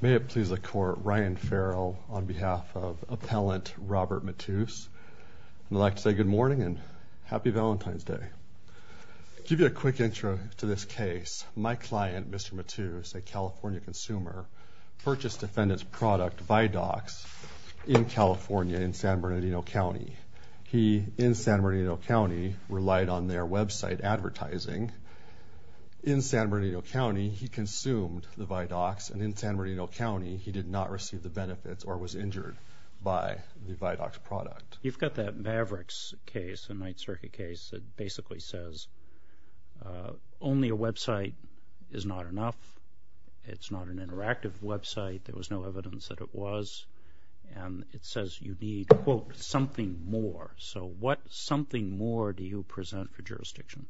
May it please the court, Ryan Farrell on behalf of appellant Robert Matus. I'd like to say good morning and happy Valentine's Day. Give you a quick intro to this case. My client Mr. Matus, a California consumer, purchased defendant's product Vidox in California in San Bernardino County. He in San Bernardino County relied on their website advertising. In San Bernardino County he consumed the Vidox and in San Bernardino County he did not receive the benefits or was injured by the Vidox product. You've got that Mavericks case, a Ninth Circuit case, that basically says only a website is not enough. It's not an interactive website. There was no evidence that it was and it says you need, quote, something more. So what something more do you present for jurisdiction?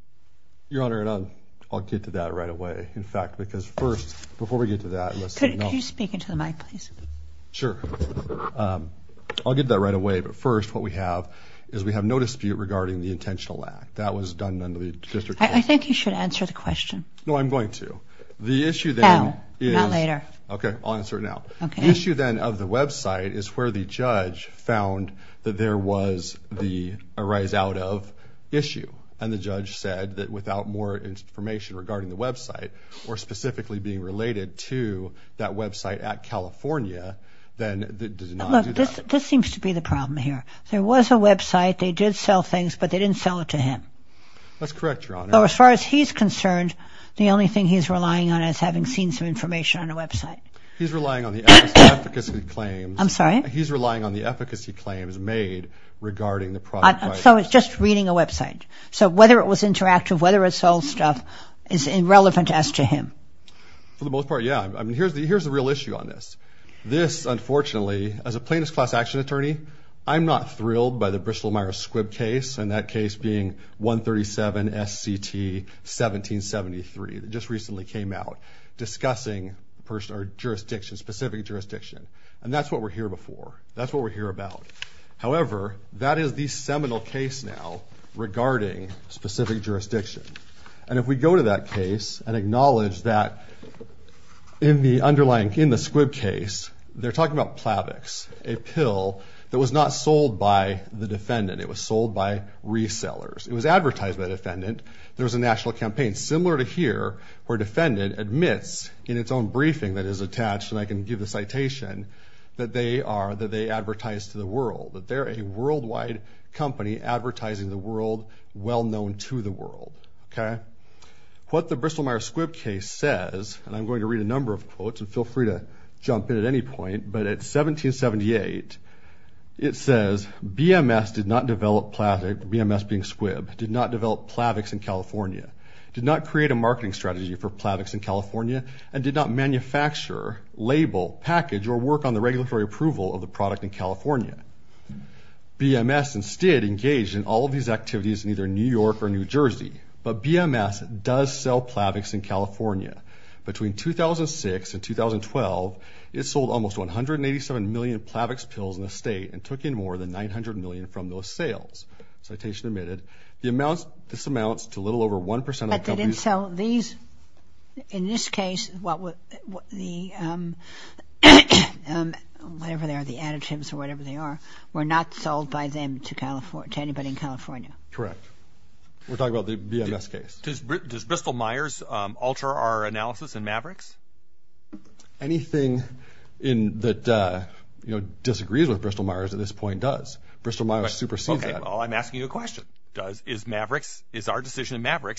Your Honor, I'll get to that right away. In fact, because first, before we get to that... Could you speak into the mic, please? Sure. I'll get that right away, but first what we have is we have no dispute regarding the intentional lack. That was done under the district... I think you should answer the question. No, I'm going to. The issue then... Now, not later. Okay, I'll answer now. The issue then of the website is where the judge found that there was the arise out of issue and the judge said that without more information regarding the website or specifically being related to that website at California, then... This seems to be the problem here. There was a website, they did sell things, but they didn't sell it to him. That's correct, Your Honor. So as far as he's concerned, the only thing he's relying on is having seen some information on a website. He's relying on the efficacy claims... I'm sorry? He's relying on the efficacy claims made regarding the product... So it's just reading a website. So whether it was interactive, whether it sold stuff, is irrelevant as to him. For the most part, yeah. Here's the real issue on this. This, unfortunately, as a plaintiff's class action attorney, I'm not thrilled by the Bristol-Myers-Squibb case and that case being 137 S.C.T. 1773 that just recently came out discussing jurisdiction specific jurisdiction. And that's what we're here before. That's what we're here about. However, that is the seminal case now regarding specific jurisdiction. And if we go to that case and acknowledge that in the underlying... In the Squibb case, they're talking about Plavix, a pill that was not sold by the defendant. It was sold by resellers. It was advertised by the defendant. There was a national campaign similar to here where defendant admits in its own briefing that is attached, and I can give the citation, that they are... That they advertise to the world. That they're a worldwide company advertising the world well known to the world. Okay. What the Bristol-Myers-Squibb case says, and I'm going to read a number of quotes and feel free to jump in at any point, but at 1778, it says, BMS did not develop Plavix... BMS being Squibb, did not develop Plavix in California, did not create a marketing strategy for Plavix in California, and did not manufacture, label, package, or work on the regulatory approval of the product in California. BMS instead engaged in all of these activities in either New York or New Jersey, but BMS does sell Plavix in California. Between 2006 and 2012, it sold almost 187 million Plavix pills in the state and took in more than 900 million from those sales. Citation admitted. The amounts... But they didn't sell these... In this case, whatever they are, the additives or whatever they are, were not sold by them to anybody in California. Correct. We're talking about the BMS case. Does Bristol-Myers alter our analysis in Mavericks? Anything that disagrees with Bristol-Myers at this point does. Bristol-Myers supersedes that. Okay, well, I'm asking you a question. Is Mavericks,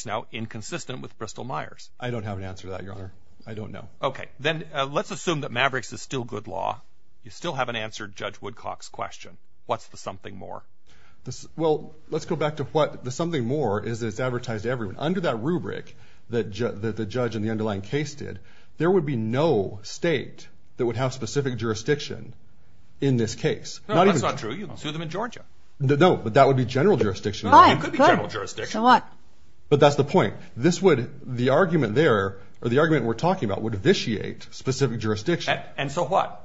now inconsistent with Bristol-Myers? I don't have an answer to that, Your Honor. I don't know. Okay, then let's assume that Mavericks is still good law. You still haven't answered Judge Woodcock's question. What's the something more? Well, let's go back to what the something more is that it's advertised to everyone. Under that rubric that the judge in the underlying case did, there would be no state that would have specific jurisdiction in this case. No, that's not true. You can sue them in Georgia. No, but that would be general jurisdiction. But that's the point. This would, the argument there, or the argument we're talking about, would vitiate specific jurisdiction. And so what?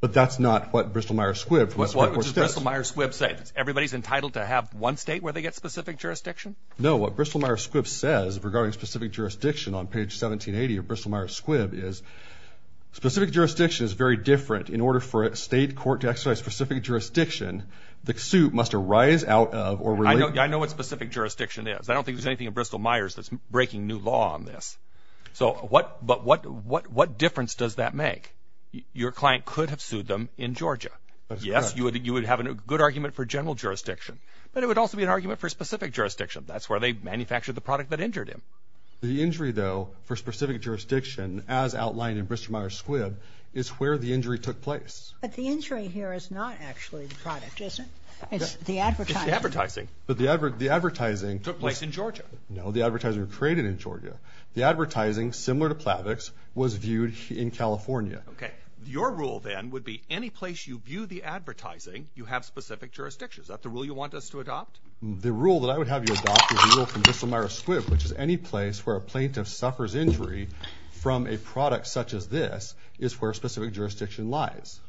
But that's not what Bristol-Myers Squibb... What does Bristol-Myers Squibb say? Everybody's entitled to have one state where they get specific jurisdiction? No, what Bristol-Myers Squibb says regarding specific jurisdiction on page 1780 of Bristol-Myers Squibb is, specific jurisdiction is very different. In order for a state court to exercise specific jurisdiction, the suit must arise out of or relate... I know what specific jurisdiction is. I don't think there's anything in Bristol-Myers that's breaking new law on this. So what, but what, what, what difference does that make? Your client could have sued them in Georgia. Yes, you would, you would have a good argument for general jurisdiction. But it would also be an argument for specific jurisdiction. That's where they manufactured the product that injured him. The injury, though, for specific jurisdiction, as where the injury took place. But the injury here is not actually the product, is it? It's the advertising. It's the advertising. But the advert, the advertising... Took place in Georgia. No, the advertiser traded in Georgia. The advertising, similar to Plavix, was viewed in California. Okay, your rule then would be any place you view the advertising, you have specific jurisdiction. Is that the rule you want us to adopt? The rule that I would have you adopt is the rule from Bristol-Myers Squibb, which is any place where a plaintiff suffers injury from a product such as this is where specific jurisdiction lies.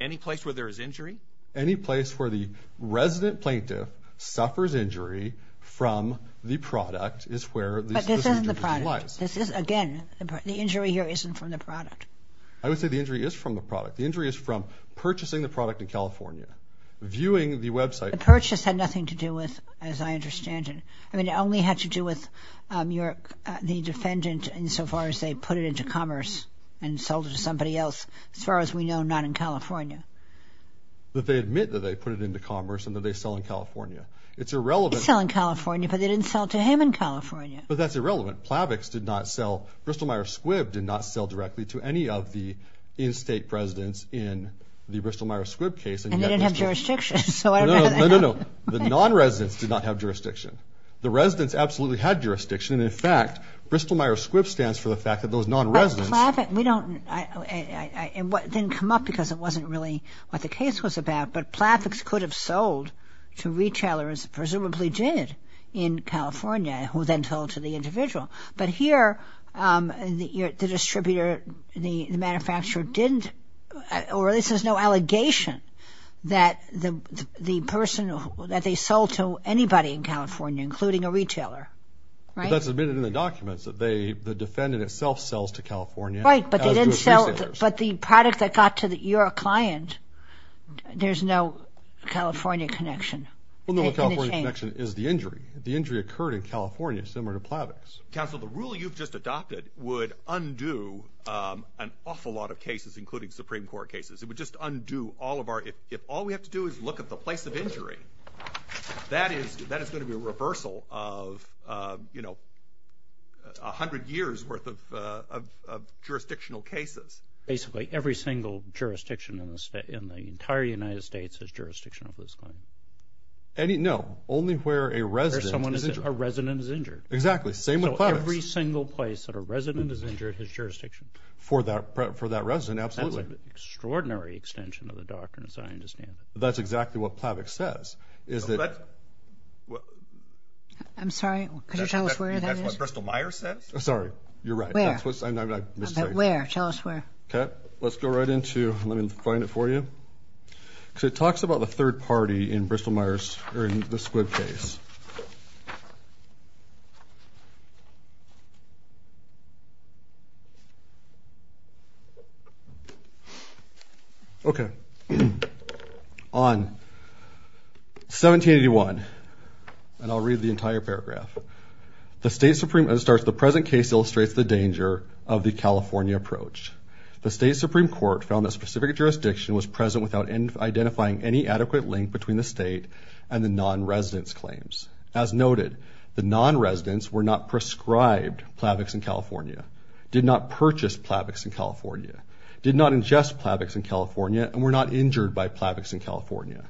Any place where there is injury? Any place where the resident plaintiff suffers injury from the product is where... But this isn't the product. This is, again, the injury here isn't from the product. I would say the injury is from the product. The injury is from purchasing the product in California, viewing the website. The purchase had nothing to do with, as I understand it. I mean, it only had to do with your, the defendant insofar as they put it into commerce and sold it to somebody else. As far as we know, not in California. But they admit that they put it into commerce and that they sell in California. It's irrelevant. They sell in California, but they didn't sell to him in California. But that's irrelevant. Plavix did not sell, Bristol-Myers Squibb did not sell directly to any of the in-state presidents in the Bristol-Myers Squibb case. And they didn't have jurisdiction. No, the non-residents did not have jurisdiction. The residents absolutely had jurisdiction, and in fact, Bristol-Myers Squibb stands for the fact that those non-residents... But Plavix, we don't, it didn't come up because it wasn't really what the case was about, but Plavix could have sold to retailers, presumably did, in California, who then told to the individual. But here, the distributor, the manufacturer didn't, or this is no allegation, that the person, that they sold to anybody in California, including a defendant, itself sells to California. Right, but they didn't sell, but the product that got to the, your client, there's no California connection. Well, no California connection is the injury. The injury occurred in California, similar to Plavix. Counsel, the rule you've just adopted would undo an awful lot of cases, including Supreme Court cases. It would just undo all of our, if all we have to do is look at the place of injury, that is, that is going to be a reversal of, you know, a hundred years worth of jurisdictional cases. Basically, every single jurisdiction in the state, in the entire United States, has jurisdiction over this claim. Any, no, only where a resident... A resident is injured. Exactly, same with Plavix. So every single place that a resident is injured, has jurisdiction. For that, for that resident, absolutely. That's an extraordinary extension of the doctrine, as I understand it. That's exactly what Plavix says, is that... I'm sorry, could you tell us where that is? That's what Bristol-Myers says? I'm sorry, you're right. Where? I'm sorry. Where? Tell us where. Okay, let's go right into, let me find it for you. So it talks about the third party in Bristol-Myers, or in the Squid case. Okay, on 1781, and I'll read the entire paragraph. The State Supreme, it starts, the present case illustrates the danger of the California approach. The State Supreme Court found that specific jurisdiction was present without identifying any adequate link between the State and the non-residents' claims. As noted, the non-residents were not prescribed Plavix in California, did not purchase Plavix in California, did not ingest Plavix in California, and were not injured by Plavix in California.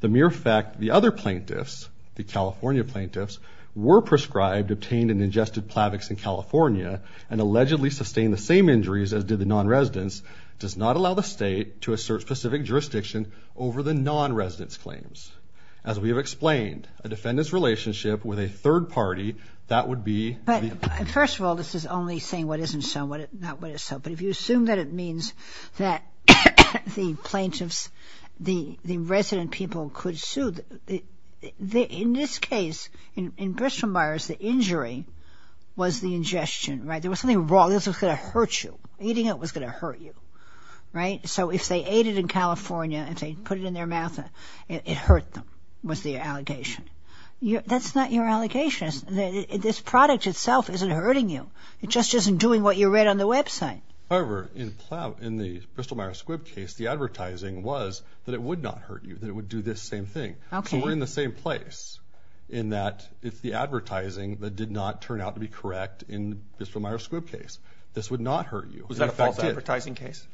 The mere fact the other plaintiffs, the California plaintiffs, were prescribed, obtained, and ingested Plavix in California, and allegedly sustained the same injuries as did the non-residents, does not allow the State to assert specific jurisdiction over the non-residents' claims. As we have explained, a defendant's relationship with a third party, that would be... First of all, this is only saying what isn't so, not what is so, but if you assume that it means that the plaintiffs, the resident people could sue, in this case, in Bristol-Myers, the injury was the ingestion, right? There was something wrong, this was going to hurt you. Eating it was going to hurt you, right? So if they ate it in California and put it in their mouth, it hurt them, was the allegation. That's not your allegation. This product itself isn't hurting you. It just isn't doing what you read on the website. However, in the Bristol-Myers Squibb case, the advertising was that it would not hurt you, that it would do this same thing. So we're in the same place, in that it's the advertising that did not turn out to be correct in the Bristol-Myers Squibb case. This would not hurt you. Was that a false advertising case?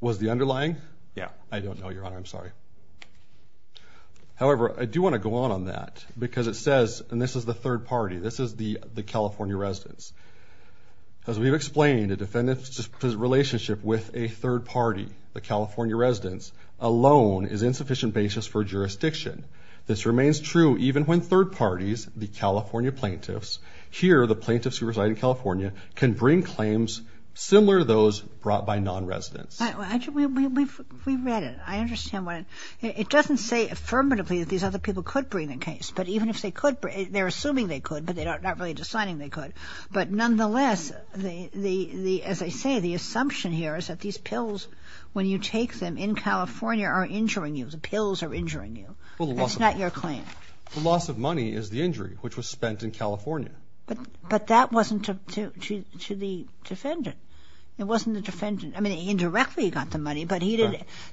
Was the underlying? Yeah. I don't know, Your Honor. I'm sorry. However, I do want to go on on that because it says, and this is the third party, this is the California residents. As we've explained, a defendant's relationship with a third party, the California residents, alone is insufficient basis for jurisdiction. This remains true even when third parties, the California plaintiffs, here the plaintiffs who reside in similar to those brought by non-residents. We read it. I understand why. It doesn't say affirmatively that these other people could bring the case, but even if they could, they're assuming they could, but they're not really deciding they could. But nonetheless, as I say, the assumption here is that these pills, when you take them in California, are injuring you. The pills are injuring you. That's not your claim. The loss of money is the injury, which was spent in California. But that wasn't to the defendant. It wasn't the defendant. I mean, indirectly he got the money, but he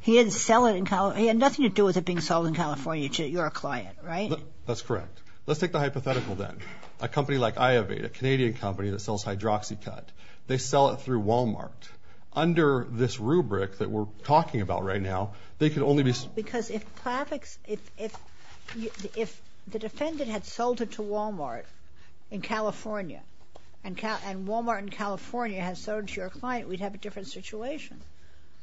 didn't sell it in California. He had nothing to do with it being sold in California to your client, right? That's correct. Let's take the hypothetical then. A company like Iovade, a Canadian company that sells hydroxycut, they sell it through Walmart. Under this rubric that we're talking about right now, they could only be... Because if the defendant had sold it to Walmart in California and Walmart in California had sold it to your client, we'd have a different situation.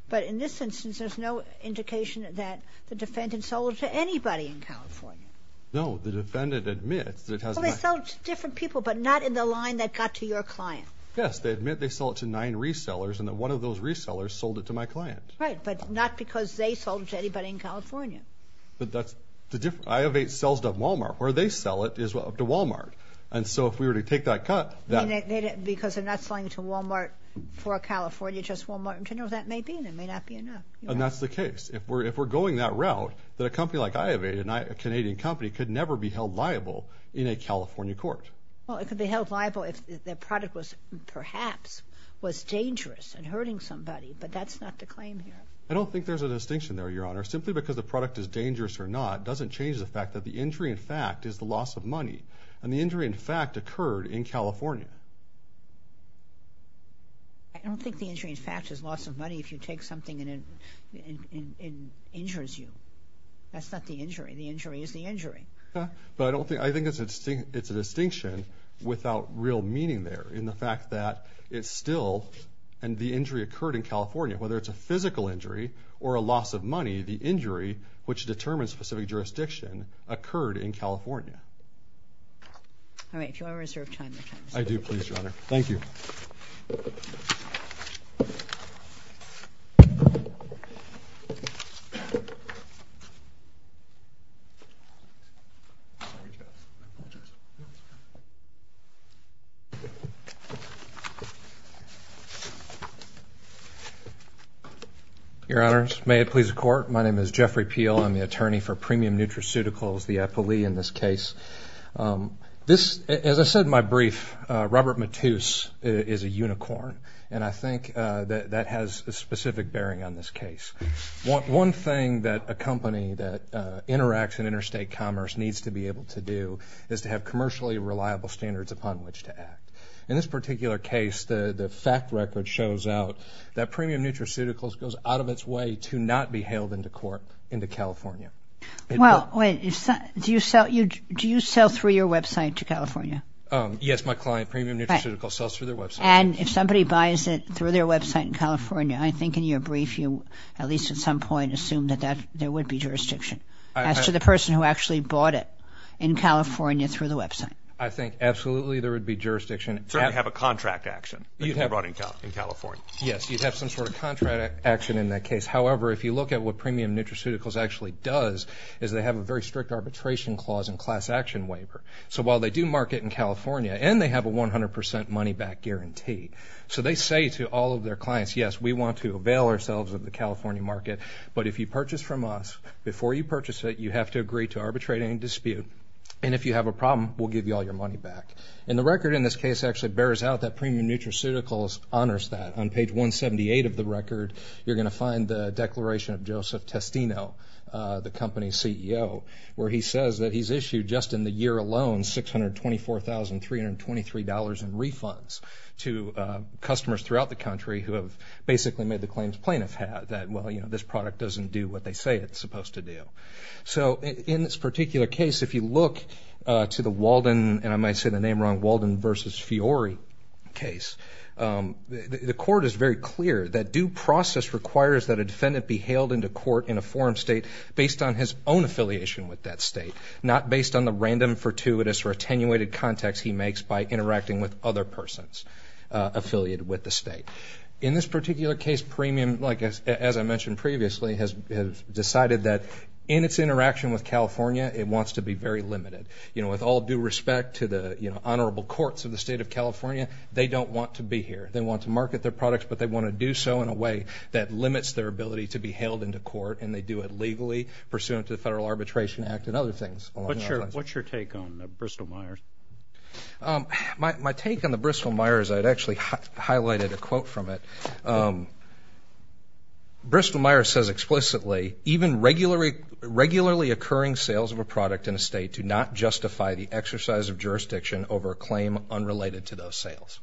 But in this instance, there's no indication that the defendant sold it to anybody in California. No, the defendant admits that it has... Well, they sell it to different people, but not in the line that got to your client. Yes, they admit they sell it to nine resellers and that one of those resellers sold it to my client. Right, but not because they sold it to Walmart. And so if we were to take that cut... Because they're not selling it to Walmart for California, just Walmart in general. That may be and it may not be enough. And that's the case. If we're going that route, that a company like Iovade, a Canadian company, could never be held liable in a California court. Well, it could be held liable if the product was, perhaps, was dangerous and hurting somebody, but that's not the claim here. I don't think there's a distinction there, Your Honor. Simply because the product is dangerous or not doesn't change the fact that the injury, in fact, is the loss of money. And the injury, in fact, occurred in California. I don't think the injury, in fact, is loss of money if you take something and it injures you. That's not the injury. The injury is the injury. But I don't think... I think it's a distinction without real meaning there in the fact that it's still... And the injury occurred in California. Whether it's a physical injury or a loss of money, the injury, which determines specific jurisdiction, occurred in California. All right. Do you want to reserve time? I do, please, Your Honor. Thank you. Your Honors, may it please the Court. My name is Jeffrey Peel. I'm the attorney for Premium Nutraceuticals, the EPILE in this case. This... As I said in my brief, Robert Mattus is a unicorn, and I think that that has a specific bearing on this case. One thing that a company that interacts in interstate commerce needs to be able to do is to have commercially reliable standards upon which to act. In this particular case, the fact record shows out that Premium Nutraceuticals goes out of its way to not be hailed into court into California. Well, wait. Do you sell through your website to California? Yes, my client, Premium Nutraceuticals, sells through their website. And if somebody buys it through their website in California, I think in your brief you, at least at some point, assume that there would be jurisdiction as to the person who actually bought it in California through the website. I think absolutely there would be jurisdiction. Certainly have a contract action that you brought in California. Yes, you'd have some sort of contract action in that case. However, if you look at what Premium Nutraceuticals actually does is they have a very strict arbitration clause and class action waiver. So while they do market in California, and they have a 100% money back guarantee. So they say to all of their clients, yes, we want to avail ourselves of the California market. But if you purchase from us, before you purchase it, you have to agree to arbitrate any dispute. And if you have a problem, we'll give you all your money back. And the record in this case actually bears out that Premium Nutraceuticals honors that. On page 178 of the record, you're going to find the declaration of Joseph Testino, the company's CEO, where he says that he's issued, just in the year alone, $624,323 in refunds to customers throughout the country who have basically made the claims plaintiff had. That, well, you know, this product doesn't do what they say it's supposed to do. So in this particular case, if you look to the Walden, and I might say the name wrong, Walden versus Fiori case, the court is very clear that due process requires that a defendant be hailed into court in a forum state based on his own affiliation with that state, not based on the random, fortuitous, or attenuated context he makes by interacting with other persons affiliated with the state. In this particular case, Premium, as I mentioned previously, has decided that in its interaction with California, it wants to be very limited. You know, with all due respect to the, you know, honorable courts of the state of California, they don't want to be here. They want to market their products, but they want to do so in a way that limits their ability to be hailed into court, and they do it legally pursuant to the Federal Arbitration Act and other things. What's your take on Bristol-Myers? My take on the Bristol-Myers, I'd actually highlighted a quote from it. Bristol-Myers says explicitly, even regularly occurring sales of a product in a state do not justify the exercise of jurisdiction over a claim unrelated to those sales.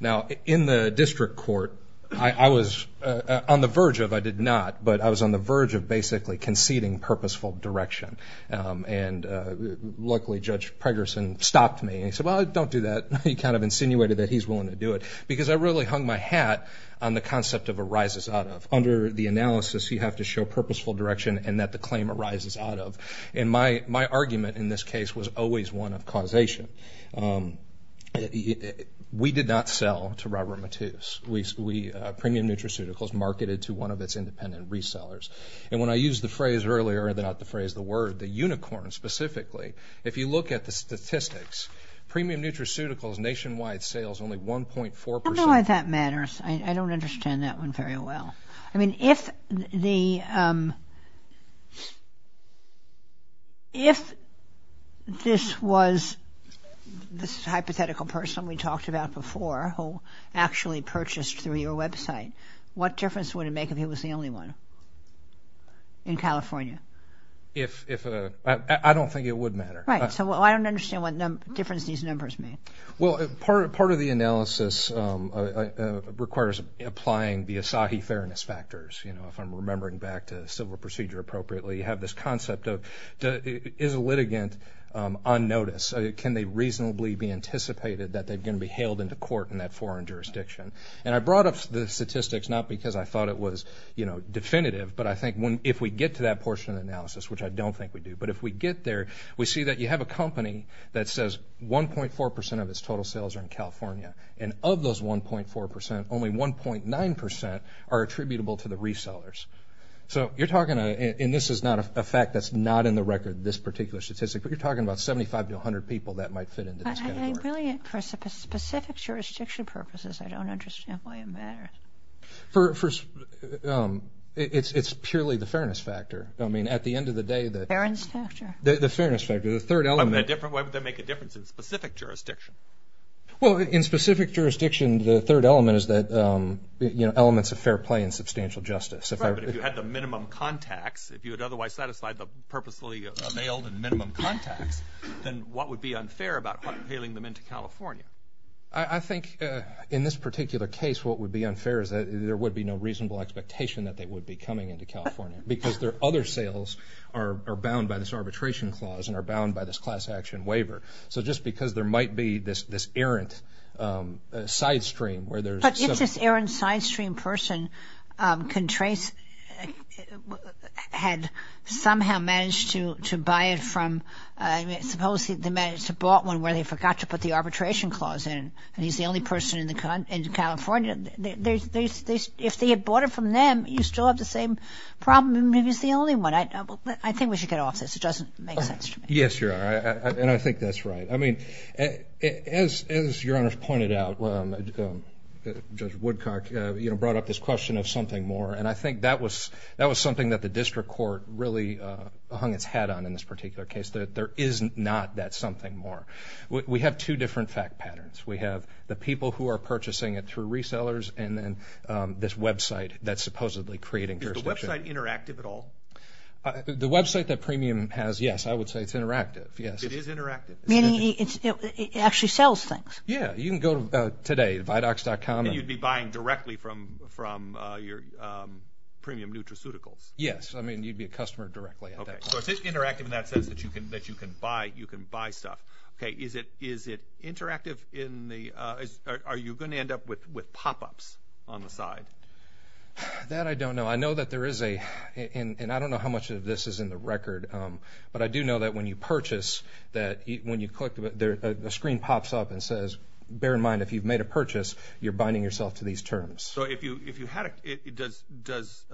Now, in the district court, I was on the verge of, I did not, but I was on the verge of basically conceding purposeful direction, and luckily Judge Pregerson stopped me, and he said, well, don't do that. He kind of insinuated that he's willing to do it, because I really hung my hat on the concept of arises out of. Under the analysis, you have to show purposeful direction, and that the claim arises out of, and my argument in this case was always one of causation. We did not sell to Robert Mattus. Premium Nutraceuticals marketed to one of its independent resellers, and when I used the phrase earlier, not the phrase, the word, the unicorn specifically, if you look at the statistics, Premium Nutraceuticals nationwide sales only 1.4 percent. I don't know why that one very well. I mean, if the, if this was this hypothetical person we talked about before, who actually purchased through your website, what difference would it make if he was the only one in California? If, if, I don't think it would matter. Right, so I don't understand what difference these numbers make. Well, part of the analysis requires applying the Asahi fairness factors, you know, if I'm remembering back to civil procedure appropriately. You have this concept of, is a litigant on notice? Can they reasonably be anticipated that they're going to be hailed into court in that foreign jurisdiction? And I brought up the statistics, not because I thought it was, you know, definitive, but I think when, if we get to that portion of the analysis, which I don't think we do, but if we get there, we see that you have a company that says 1.4 percent of its total sales are in California. And of those 1.4 percent, only 1.9 percent are attributable to the resellers. So you're talking, and this is not a fact that's not in the record, this particular statistic, but you're talking about 75 to 100 people that might fit into this category. I really, for specific jurisdiction purposes, I don't understand why it matters. For, for, it's, it's purely the fairness factor. I mean, at the end of the day, the fairness factor, the third element. Why would that make a difference in specific jurisdiction? Well, in specific jurisdiction, the third element is that, you know, elements of fair play and substantial justice. If you had the minimum contacts, if you had otherwise satisfied the purposely availed and minimum contacts, then what would be unfair about hailing them into California? I think in this particular case, what would be unfair is that there would be no reasonable expectation that they would be coming into California because their other sales are bound by this arbitration clause and are bound by this class action waiver. So just because there might be this, this errant sidestream where there's... But if this errant sidestream person can trace, had somehow managed to, to buy it from, I mean, supposedly they managed to bought one where they forgot to put the arbitration clause in, and he's the only person in the, in California. There's, there's, if they had bought it from them, you still have the same problem. Maybe he's the only one. I think we should get off this. It doesn't make sense to me. Yes, you're right. And I think that's right. I mean, as, as Your Honor's pointed out, Judge Woodcock, you know, brought up this question of something more. And I think that was, that was something that the district court really hung its hat on in this particular case, that there is not that something more. We have two different fact patterns. We have the people who are purchasing it through resellers, and then this website that's supposedly creating jurisdiction. Is the website interactive at all? The website that Premium has, yes, I would say it's interactive. Yes. It is interactive? Meaning it's, it actually sells things. Yeah. You can go to, today, vidox.com. And you'd be buying directly from, from your Premium Nutraceuticals? Yes. I mean, you'd be a customer directly at that point. So it's interactive in that sense that you can, that you can buy, you can buy stuff. Okay. Is it, is it interactive in the, are you going to end up with, with pop-ups on the side? That I don't know. I know that there is a, and I don't know how much of this is in the record, but I do know that when you purchase, that when you click, the screen pops up and says, bear in mind, if you've made a purchase, you're binding yourself to these terms. So if you, if you had a, does, does,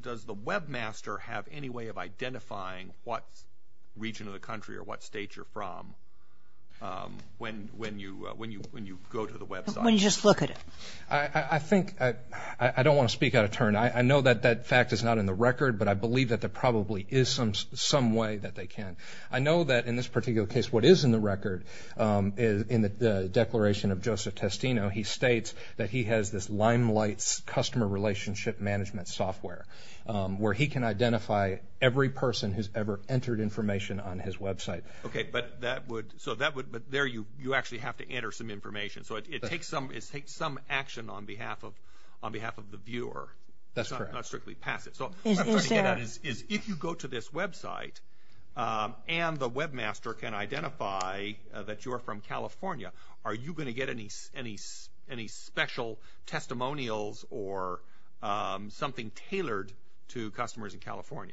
does the webmaster have any way of identifying what region of the country or what state you're from when, when you, when you, when you go to the website? When you just look at it. I think, I don't want to speak out of turn. I know that that fact is not in the record, but I believe that there probably is some, some way that they can. I know that in this particular case, what is in the record is in the declaration of Joseph Testino, he states that he has this Limelight's customer relationship management software, where he can identify every person who's ever entered information on his website. Okay, but that would, so that would, but there you, you actually have to enter some information. So it takes some, it takes some action on behalf of, on behalf of the viewer. That's correct. Not strictly pass it. So, what I'm trying to get at is, is if you go to this website, and the webmaster can identify that you're from California, are you going to get any, any, any special testimonials, or something tailored to customers in California?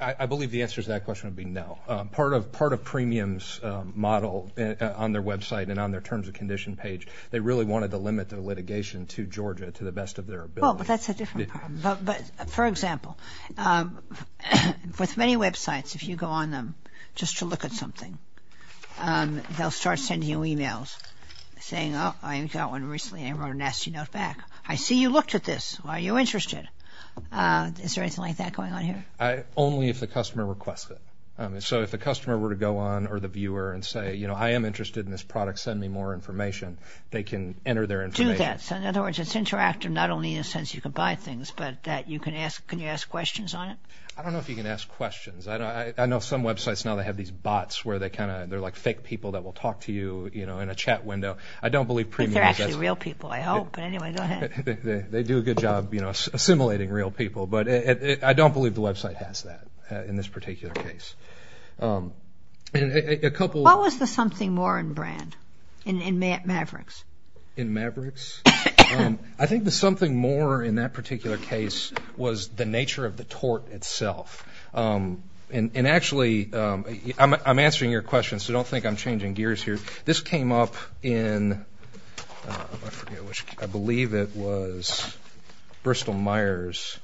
I believe the answer to that question would be no. Part of, part of Premium's model on their website, and on their terms of condition page, they really wanted to limit their litigation to Georgia, to the best of their ability. Well, but that's a different problem. But, but, for example, with many websites, if you go on them just to look at something, they'll start sending you emails, saying, oh, I got one recently, I wrote a nasty note back. I see you looked at this. Why are you interested? Is there anything like that going on here? Only if the customer requests it. So if the customer were to go on, or the viewer, and say, you know, I am interested in this product, send me more information, they can enter their information. Do that. So in other words, it's interactive, not only in the sense you can buy things, but that you can ask, can you ask questions on it? I don't know if you can ask questions. I know some websites now, they have these bots where they kind of, they're like fake people that will talk to you, you know, in a chat window. I don't believe Premium does that. They're actually real people, I hope. But anyway, go ahead. They do a good job, you know, assimilating real people. But I don't believe the website has that, in this particular case. What was the something more in brand, in Mavericks? In Mavericks? I think the something more, in that particular case, was the nature of the tort itself. And actually, I'm answering your question, so don't think I'm changing gears here. This came up in, I forget which, I believe it was Bristol Myers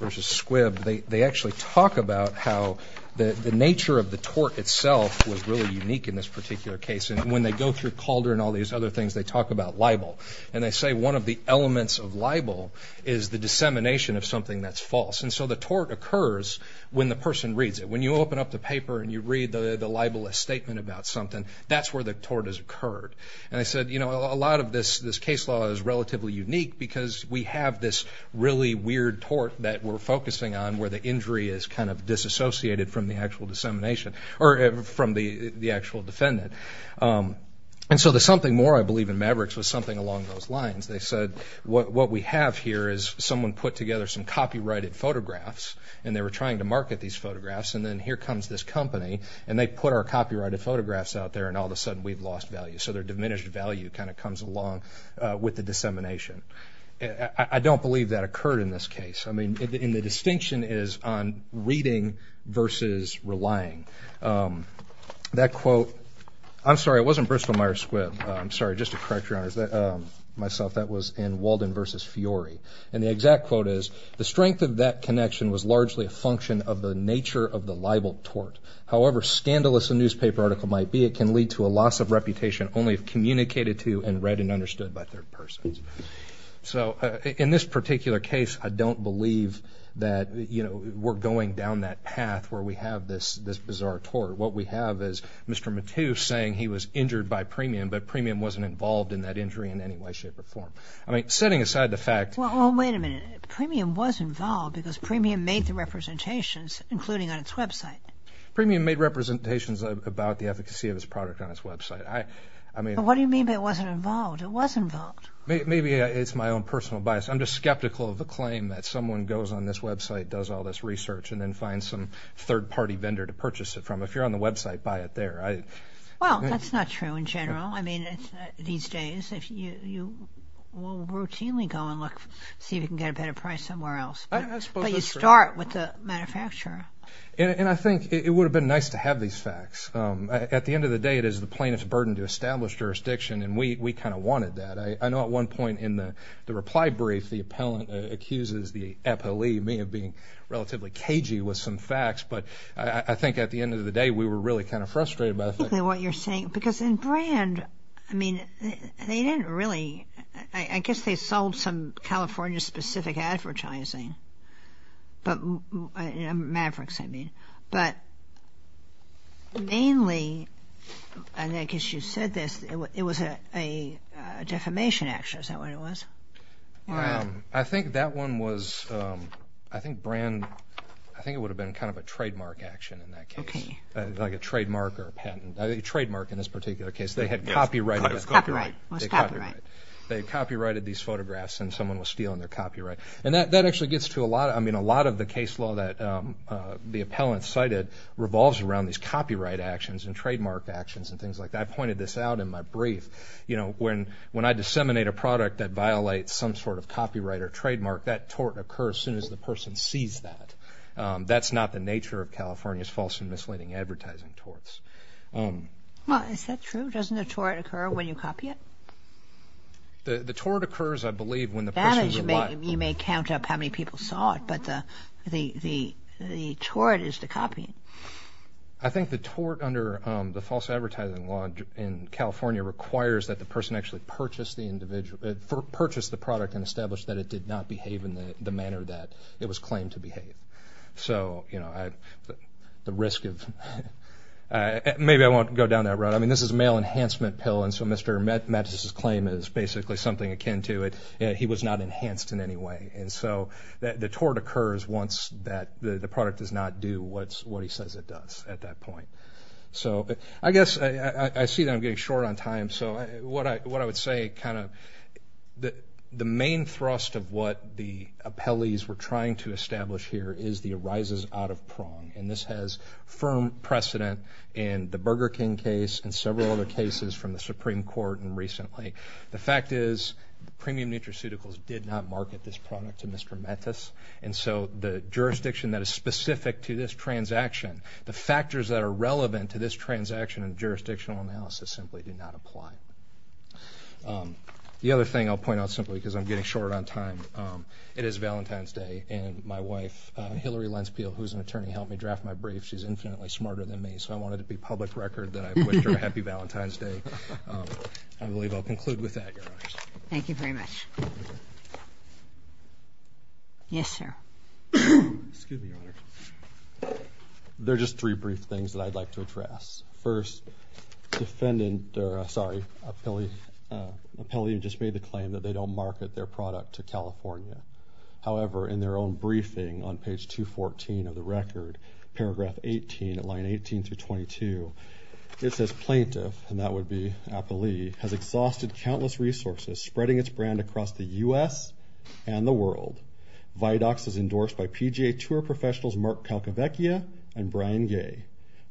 versus Squibb. They actually talk about how the nature of the tort itself was really unique in this particular case. And when they go through Calder and all these other things, they talk about libel. And they say one of the elements of libel is the dissemination of something that's false. And so the tort occurs when the person reads it. When you open up the paper and you read the libelous statement about something, that's where the tort has occurred. And I said, you know, a lot of this case law is relatively unique because we have this really weird tort that we're focusing on where the injury is kind of disassociated from the actual dissemination, or from the actual defendant. And so the something more, I believe, in Mavericks was something along those lines. They said, what we have here is someone put together some copyrighted photographs, and they were trying to market these photographs. And then here comes this company, and they put our copyrighted photographs out there, and all of a sudden we've lost value. So their diminished value kind of comes along with the dissemination. I don't believe that occurred in this case. I mean, and the distinction is on reading versus relying. That quote, I'm sorry, it was in Walden versus Fiori. And the exact quote is, the strength of that connection was largely a function of the nature of the libel tort. However scandalous a newspaper article might be, it can lead to a loss of reputation only if communicated to and read and understood by third persons. So in this particular case, I don't believe that, you know, we're going down that path where we have this bizarre tort. What we have is Mr. Matthews saying he was injured by premium, but premium wasn't involved in that injury in any way, shape, or form. I mean, setting aside the fact... Well, wait a minute. Premium was involved because premium made the representations, including on its website. Premium made representations about the efficacy of its product on its website. I mean... What do you mean it wasn't involved? It was involved. Maybe it's my own personal bias. I'm just skeptical of the claim that someone goes on this website, does all this research, and then finds some third party vendor to purchase it from. If you're on the website, buy it there. Well, that's not true in general. I mean, these days, you will routinely go and look, see if you can get a better price somewhere else, but you start with the manufacturer. And I think it would have been nice to have these facts. At the end of the day, it is the plaintiff's burden to establish jurisdiction, and we kind of wanted that. I know at one point in the reply brief, the appellant accuses the appellee, me, of being relatively cagey with some facts, but I think at the end of the day, we were really kind of frustrated by the fact... I think what you're saying, because in Brand, I mean, they didn't really... I guess they sold some California-specific advertising. Mavericks, I mean. But mainly, and I guess you said this, it was a defamation action, is that what it was? I think that one was... I think Brand... I think it would have been kind of a trademark action in that case. Like a trademark or a patent. A trademark in this particular case. They had copyrighted... Copyright. It was copyright. They copyrighted these photographs, and someone was stealing their copyright. And that actually gets to a lot of... I mean, a lot of the case law that the appellant cited revolves around these copyright actions and trademark actions and things like that. I pointed this out in my brief. When I disseminate a product that violates some sort of copyright or trademark, that tort occurs as soon as the person sees that. That's not the nature of California's false and misleading advertising torts. Well, is that true? Doesn't a tort occur when you copy it? The tort occurs, I believe, when the person's a liar. That is... You may count up how many people saw it, but the tort is the copying. I think the tort under the false advertising law in California requires that the person actually purchase the product and establish that it did not behave in the manner that it was claimed to behave. So, the risk of... Maybe I won't go down that road. I mean, this is a male enhancement pill, and so Mr. Mattis's claim is basically something akin to it. He was not enhanced in any way. And so, the tort occurs once the product does not do what he says it does at that point. I guess I see that I'm getting short on time, so what I would say, the main thrust of what the appellees were trying to establish here is the arises out of prong. And this has firm precedent in the Burger King case and several other cases from the Supreme Court and recently. The fact is, Premium Nutraceuticals did not market this product to Mr. Mattis, and so the jurisdiction that is specific to this transaction, the factors that are relevant to this transaction in jurisdictional analysis simply do not apply. The other thing I'll point out simply, because I'm getting short on time, it is Valentine's Day, and my wife, Hillary Lenspeil, who's an attorney, helped me draft my brief. She's infinitely smarter than me, so I want it to be public record that I wished her a happy Valentine's Day. I believe I'll conclude with that, Your Honors. Thank you very much. Yes, sir. Excuse me, Your Honor. There are just three brief things that I'd like to address. First, defendant, or sorry, appellee who just made the claim that they don't market their product to California. However, in their own briefing on page 214 of the record, paragraph 18, line 18 through 22, it says, Plaintiff, and that would be appellee, has exhausted countless resources spreading its brand across the U.S. and the world. Vidox is endorsed by PGA Tour professionals Mark Kalkovechia and Brian Gay.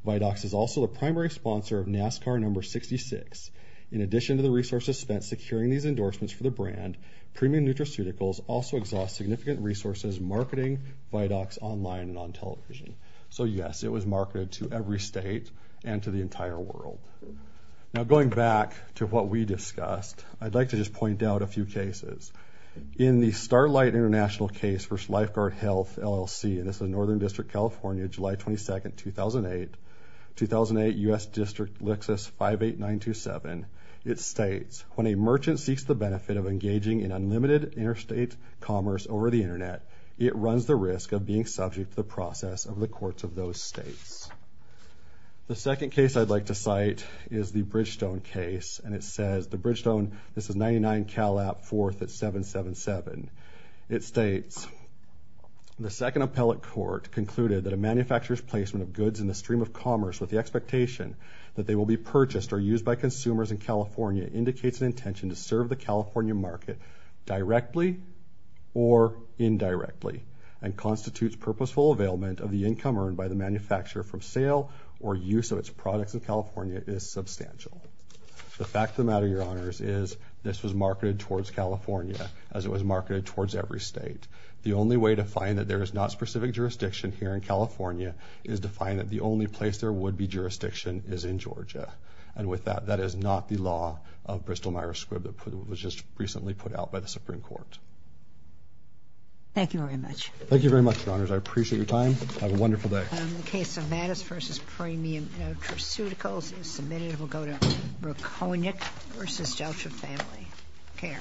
Vidox is also the primary sponsor of NASCAR number 66. In addition to the resources spent securing these endorsements for the brand, Premium Nutraceuticals also exhausts significant resources marketing Vidox online and on television. So yes, it was marketed to every state and to the entire world. Now, going back to what we discussed, I'd like to just point out a few cases. In the Starlight International case for Lifeguard Health LLC, and this is in Northern District, California, July 22nd, 2008, 2008, U.S. District, Lexus 58927, it states, When a merchant seeks the benefit of engaging in unlimited interstate commerce over the Internet, it runs the risk of being subject to the process of the courts of those states. The second case I'd like to cite is the Bridgestone case, and it says, the Bridgestone, this is 99 Cal App, 4th at 777. It states, The second appellate court concluded that a manufacturer's placement of goods in the stream of commerce with the expectation that they will be purchased or used by consumers in California indicates an intention to serve the California market directly or indirectly and constitutes purposeful availment of the income earned by the manufacturer from sale or use of its products in California is substantial. The fact of the matter, Your Honors, is this was marketed towards California, as it was marketed towards every state. The only way to find that there is not specific jurisdiction here in California is to find that the only place there would be jurisdiction is in Georgia, and with that, that is not the law of Bristol-Myers-Squibb that was just recently put out by the Supreme Court. Thank you very much. Thank you very much, Your Honors. I appreciate your time. Have a wonderful day. The case of Mattis v. Premium Nutraceuticals is submitted. We'll go to Reconyick v. Deltra Family Care.